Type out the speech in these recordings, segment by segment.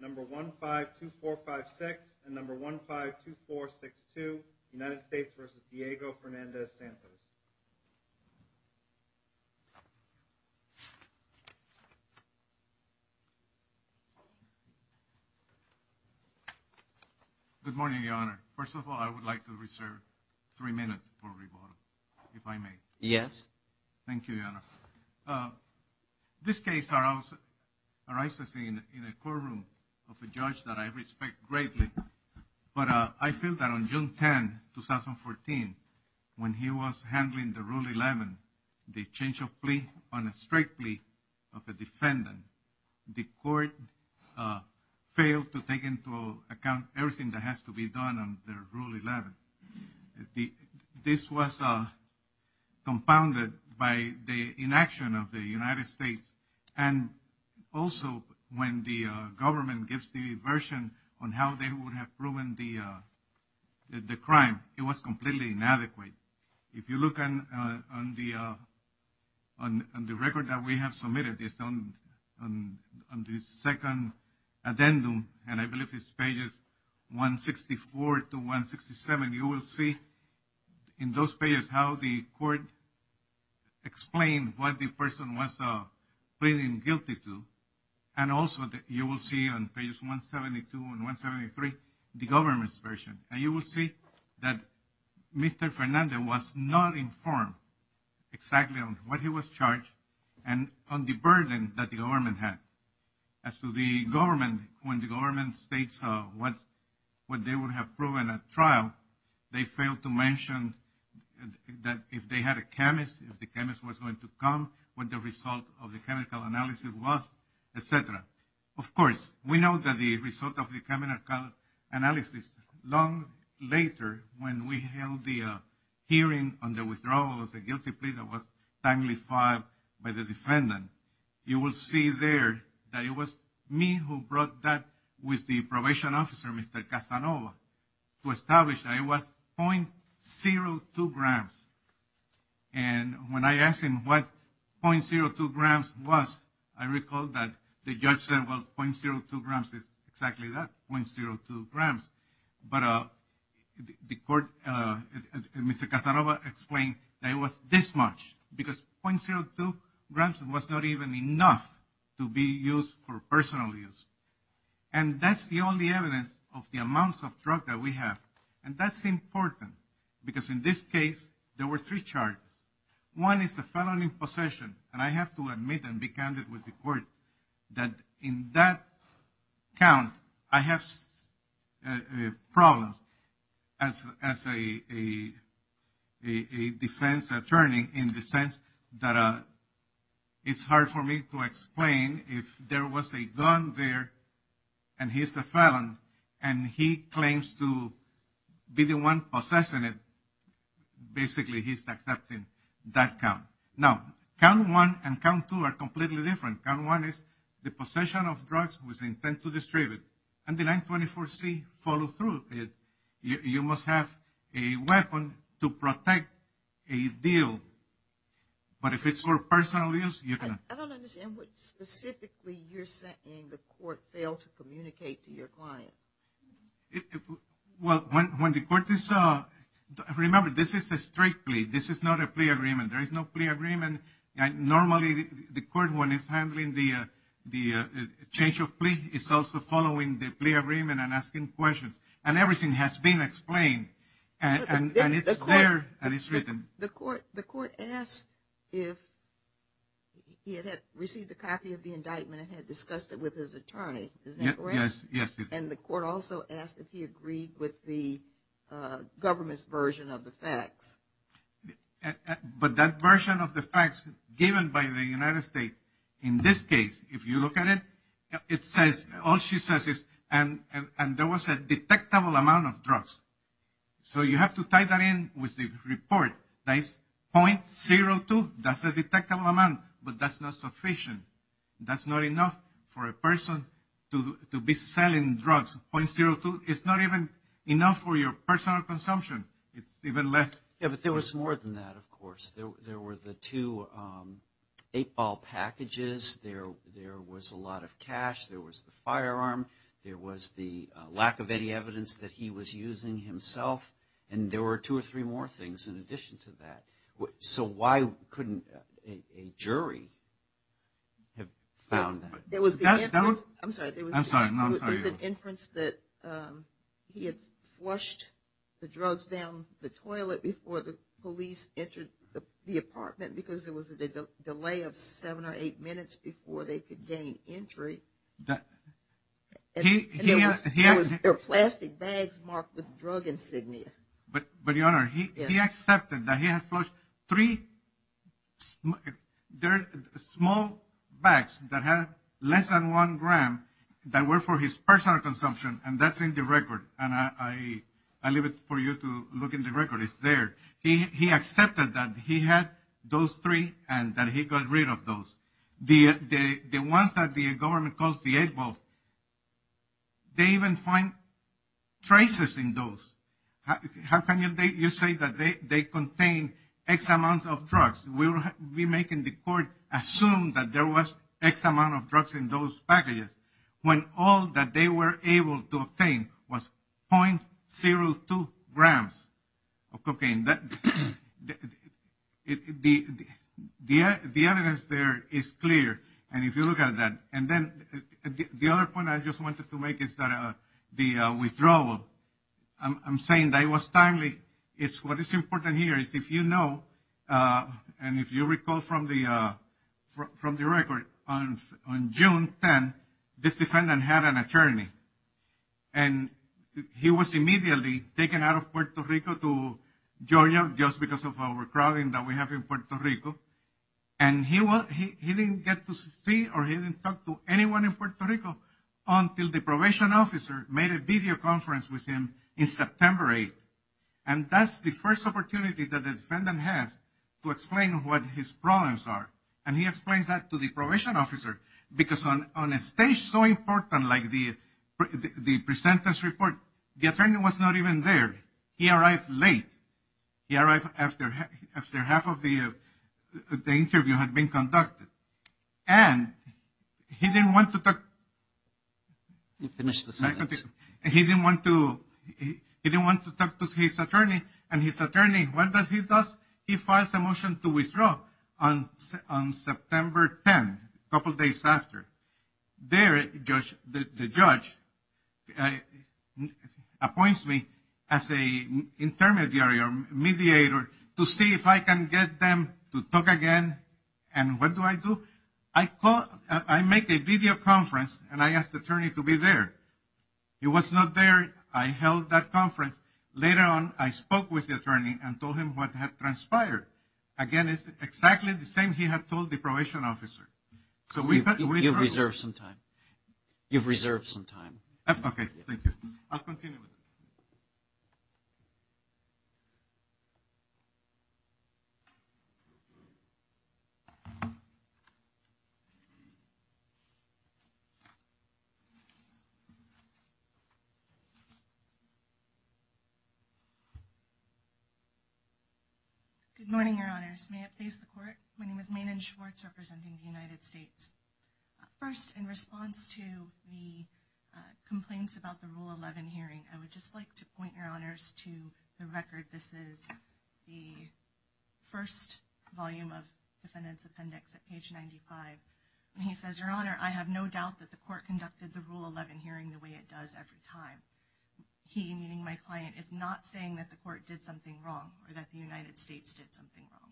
Number 152456 and number 152462, United States v. Diego Fernandez-Santos. Good morning, Your Honor. First of all, I would like to reserve three minutes for rebuttal, if I may. Yes. Thank you, Your Honor. This case arises in a courtroom of a judge that I respect greatly. But I feel that on June 10, 2014, when he was handling the Rule 11, the change of plea on a straight plea of a defendant, the court failed to take into account everything that has to be done under Rule 11. This was compounded by the inaction of the United States. And also, when the government gives the version on how they would have proven the crime, it was completely inadequate. If you look on the record that we have submitted on the second addendum, and I believe it's pages 164 to 167, you will see in those pages how the court explained what the person was pleading guilty to. And also, you will see on pages 172 and 173, the government's version. And you will see that Mr. Fernandez was not informed exactly on what he was charged and on the burden that the government had. As to the government, when the government states what they would have proven at trial, they failed to mention that if they had a chemist, if the chemist was going to come, what the result of the chemical analysis was, etc. Of course, we know that the result of the chemical analysis long later, when we held the hearing on the withdrawal of the guilty plea that was timely filed by the defendant, you will see there that it was me who brought that with the probation officer, Mr. Casanova, to establish that it was .02 grams. And when I asked him what .02 grams was, I recall that the judge said, well, .02 grams is exactly that, .02 grams. But the court, Mr. Casanova explained that it was this much, because .02 grams was not even enough to be used for personal use. And that's the only evidence of the amounts of drug that we have. And that's important, because in this case, there were three charges. One is a felony possession, and I have to admit and be candid with the court that in that count, I have problems as a defense attorney in the sense that it's hard for me to explain if there was a gun there, and he's a felon, and he claims to be the one possessing it. Basically, he's accepting that count. Now, count one and count two are completely different. Count one is the possession of drugs with intent to distribute it. And the 924C follows through. You must have a weapon to protect a deal. But if it's for personal use, you cannot. I don't understand what specifically you're saying the court failed to communicate to your client. Well, when the court is – remember, this is a straight plea. This is not a plea agreement. There is no plea agreement. Normally, the court, when it's handling the change of plea, is also following the plea agreement and asking questions. And everything has been explained, and it's there, and it's written. The court asked if he had received a copy of the indictment and had discussed it with his attorney. Isn't that correct? Yes. And the court also asked if he agreed with the government's version of the facts. But that version of the facts given by the United States, in this case, if you look at it, it says – all she says is, and there was a detectable amount of drugs. So you have to tie that in with the report. That's .02. That's a detectable amount, but that's not sufficient. That's not enough for a person to be selling drugs. .02 is not even enough for your personal consumption. It's even less. Yeah, but there was more than that, of course. There were the two eight-ball packages. There was a lot of cash. There was the firearm. There was the lack of any evidence that he was using himself, and there were two or three more things in addition to that. So why couldn't a jury have found that? There was an inference that he had flushed the drugs down the toilet before the police entered the apartment because there was a delay of seven or eight minutes before they could gain entry. And there were plastic bags marked with drug insignia. But, Your Honor, he accepted that he had flushed three small bags that had less than one gram that were for his personal consumption, and that's in the record, and I leave it for you to look in the record. It's there. He accepted that he had those three and that he got rid of those. The ones that the government calls the eight-ball, they even find traces in those. How can you say that they contain X amount of drugs? We're making the court assume that there was X amount of drugs in those packages when all that they were able to obtain was .02 grams of cocaine. The evidence there is clear, and if you look at that. And then the other point I just wanted to make is that the withdrawal, I'm saying that it was timely. What is important here is if you know and if you recall from the record, on June 10, this defendant had an attorney, and he was immediately taken out of Puerto Rico to Georgia just because of overcrowding that we have in Puerto Rico, and he didn't get to see or he didn't talk to anyone in Puerto Rico until the probation officer made a video conference with him in September 8, and that's the first opportunity that the defendant has to explain what his problems are, and he explains that to the probation officer because on a stage so important like the presentence report, the attorney was not even there. He arrived late. He arrived after half of the interview had been conducted, and he didn't want to talk to his attorney, and his attorney, what does he do? He files a motion to withdraw on September 10, a couple days after. There, the judge appoints me as an intermediary or mediator to see if I can get them to talk again, and what do I do? I make a video conference, and I ask the attorney to be there. I held that conference. Later on, I spoke with the attorney and told him what had transpired. Again, it's exactly the same he had told the probation officer. You've reserved some time. You've reserved some time. Okay, thank you. I'll continue with it. Good morning, Your Honors. May it please the Court. My name is Maenon Schwartz representing the United States. First, in response to the complaints about the Rule 11 hearing, I would just like to point Your Honors to the record. This is the first volume of defendant's appendix at page 95, and he says, Your Honor, I have no doubt that the Court conducted the Rule 11 hearing the way it does every time. He, meaning my client, is not saying that the Court did something wrong or that the United States did something wrong.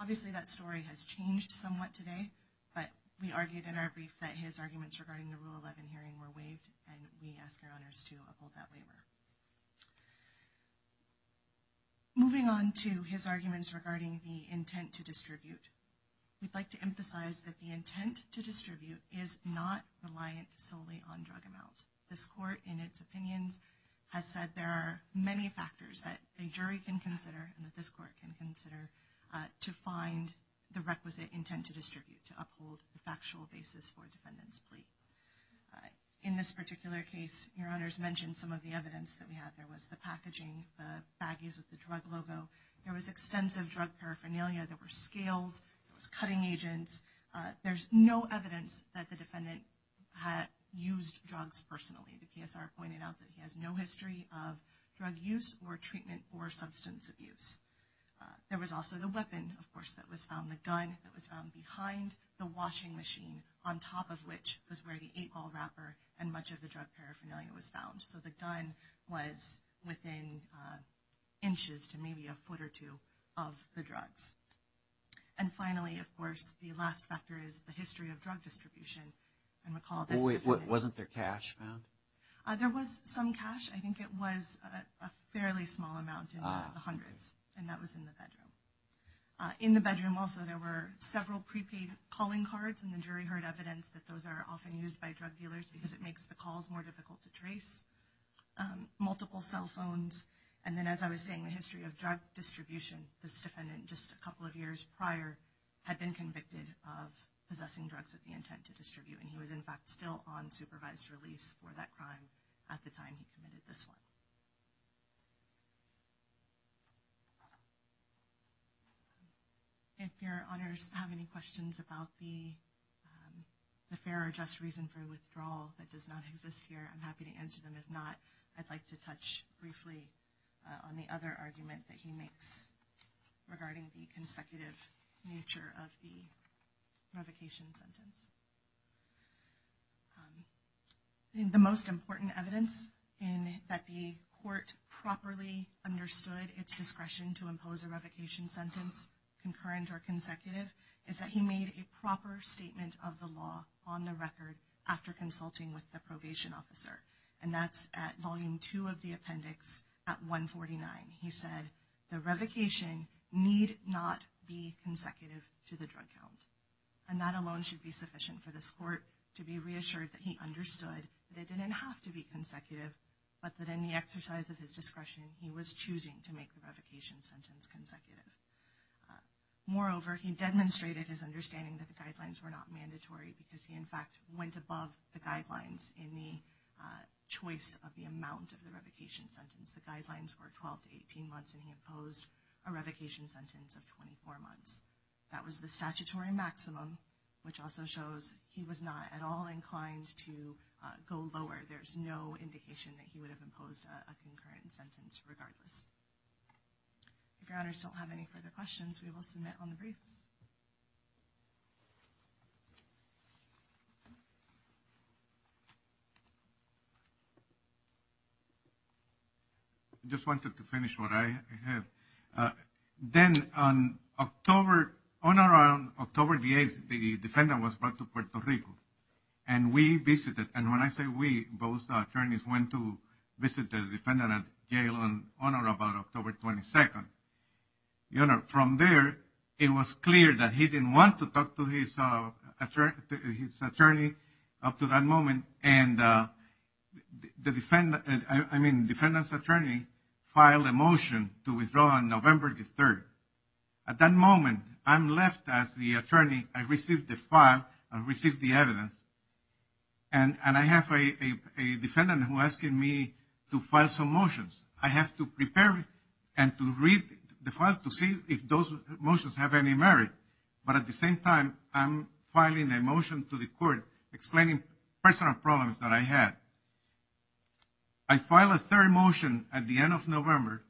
Obviously, that story has changed somewhat today, but we argued in our brief that his arguments regarding the Rule 11 hearing were waived, and we ask Your Honors to uphold that waiver. Moving on to his arguments regarding the intent to distribute, we'd like to emphasize that the intent to distribute is not reliant solely on drug amount. This Court, in its opinions, has said there are many factors that a jury can consider and that this Court can consider to find the requisite intent to distribute, to uphold the factual basis for a defendant's plea. In this particular case, Your Honors mentioned some of the evidence that we have. There was the packaging, the baggies with the drug logo. There was extensive drug paraphernalia. There were scales. There was cutting agents. There's no evidence that the defendant had used drugs personally. The PSR pointed out that he has no history of drug use or treatment or substance abuse. There was also the weapon, of course, that was found, the gun that was found behind the washing machine, on top of which was where the eight-ball wrapper and much of the drug paraphernalia was found. So the gun was within inches to maybe a foot or two of the drugs. And finally, of course, the last factor is the history of drug distribution. Boy, wasn't there cash found? There was some cash. I think it was a fairly small amount in the hundreds, and that was in the bedroom. In the bedroom, also, there were several prepaid calling cards, and the jury heard evidence that those are often used by drug dealers because it makes the calls more difficult to trace. Multiple cell phones. And then, as I was saying, the history of drug distribution. This defendant, just a couple of years prior, had been convicted of possessing drugs with the intent to distribute, and he was, in fact, still on supervised release for that crime at the time he committed this one. If your honors have any questions about the fair or just reason for withdrawal that does not exist here, I'm happy to answer them. And if not, I'd like to touch briefly on the other argument that he makes regarding the consecutive nature of the revocation sentence. The most important evidence that the court properly understood its discretion to impose a revocation sentence, concurrent or consecutive, is that he made a proper statement of the law on the record after consulting with the probation officer. And that's at volume two of the appendix at 149. He said, the revocation need not be consecutive to the drug count. And that alone should be sufficient for this court to be reassured that he understood that it didn't have to be consecutive, but that in the exercise of his discretion, he was choosing to make the revocation sentence consecutive. Moreover, he demonstrated his understanding that the guidelines were not mandatory because he, in fact, went above the guidelines in the choice of the amount of the revocation sentence. The guidelines were 12 to 18 months, and he imposed a revocation sentence of 24 months. That was the statutory maximum, which also shows he was not at all inclined to go lower. There's no indication that he would have imposed a concurrent sentence regardless. If your honors don't have any further questions, we will submit on the briefs. I just wanted to finish what I have. Then on October, on or around October the 8th, the defendant was brought to Puerto Rico, and we visited. And when I say we, both attorneys went to visit the defendant at jail on or about October 22nd. Your honor, from there, it was clear that he didn't want to talk to his attorney up to that moment. And the defendant, I mean, defendant's attorney filed a motion to withdraw on November the 3rd. At that moment, I'm left as the attorney. I received the file, I received the evidence, and I have a defendant who's asking me to file some motions. I have to prepare and to read the file to see if those motions have any merit. But at the same time, I'm filing a motion to the court explaining personal problems that I had. I filed a third motion at the end of November,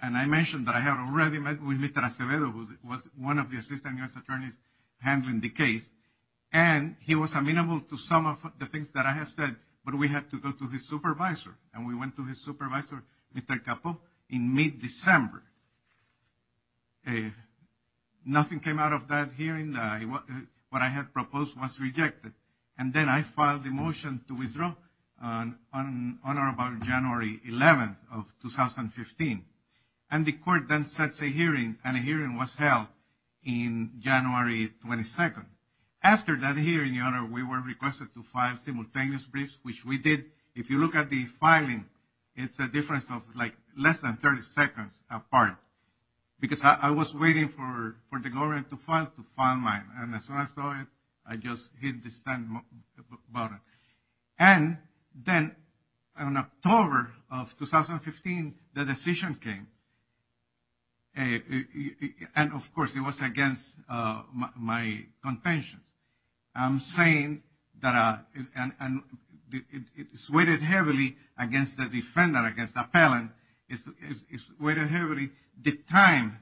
and I mentioned that I had already met with Mr. Acevedo, who was one of the assistant U.S. attorneys handling the case. And he was amenable to some of the things that I had said, but we had to go to his supervisor. And we went to his supervisor, Mr. Capo, in mid-December. Nothing came out of that hearing. What I had proposed was rejected. And then I filed a motion to withdraw on or about January 11th of 2015. And the court then sets a hearing, and a hearing was held in January 22nd. After that hearing, Your Honor, we were requested to file simultaneous briefs, which we did. If you look at the filing, it's a difference of, like, less than 30 seconds apart. Because I was waiting for the government to file mine. And as soon as I saw it, I just hit the send button. And then in October of 2015, the decision came. And, of course, it was against my contention. I'm saying that it's weighted heavily against the defendant, against the appellant. It's weighted heavily, the time,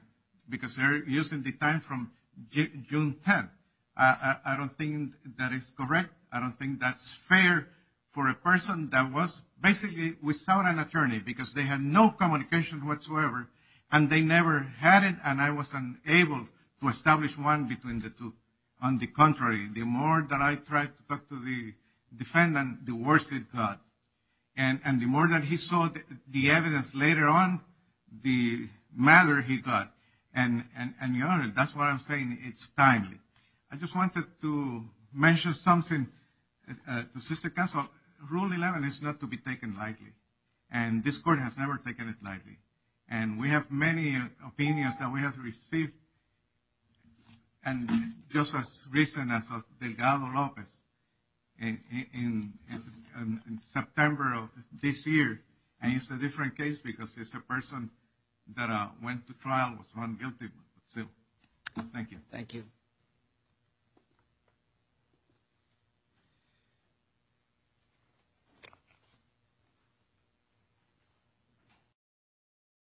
because they're using the time from June 10th. I don't think that is correct. I don't think that's fair for a person that was basically without an attorney, because they had no communication whatsoever. And they never had it, and I wasn't able to establish one between the two. On the contrary, the more that I tried to talk to the defendant, the worse it got. And the more that he saw the evidence later on, the madder he got. And, Your Honor, that's why I'm saying it's timely. I just wanted to mention something to assist the counsel. Rule 11 is not to be taken lightly, and this court has never taken it lightly. And we have many opinions that we have received, and just as recent as Delgado Lopez in September of this year. And it's a different case because it's a person that went to trial, was found guilty. Thank you. Thank you.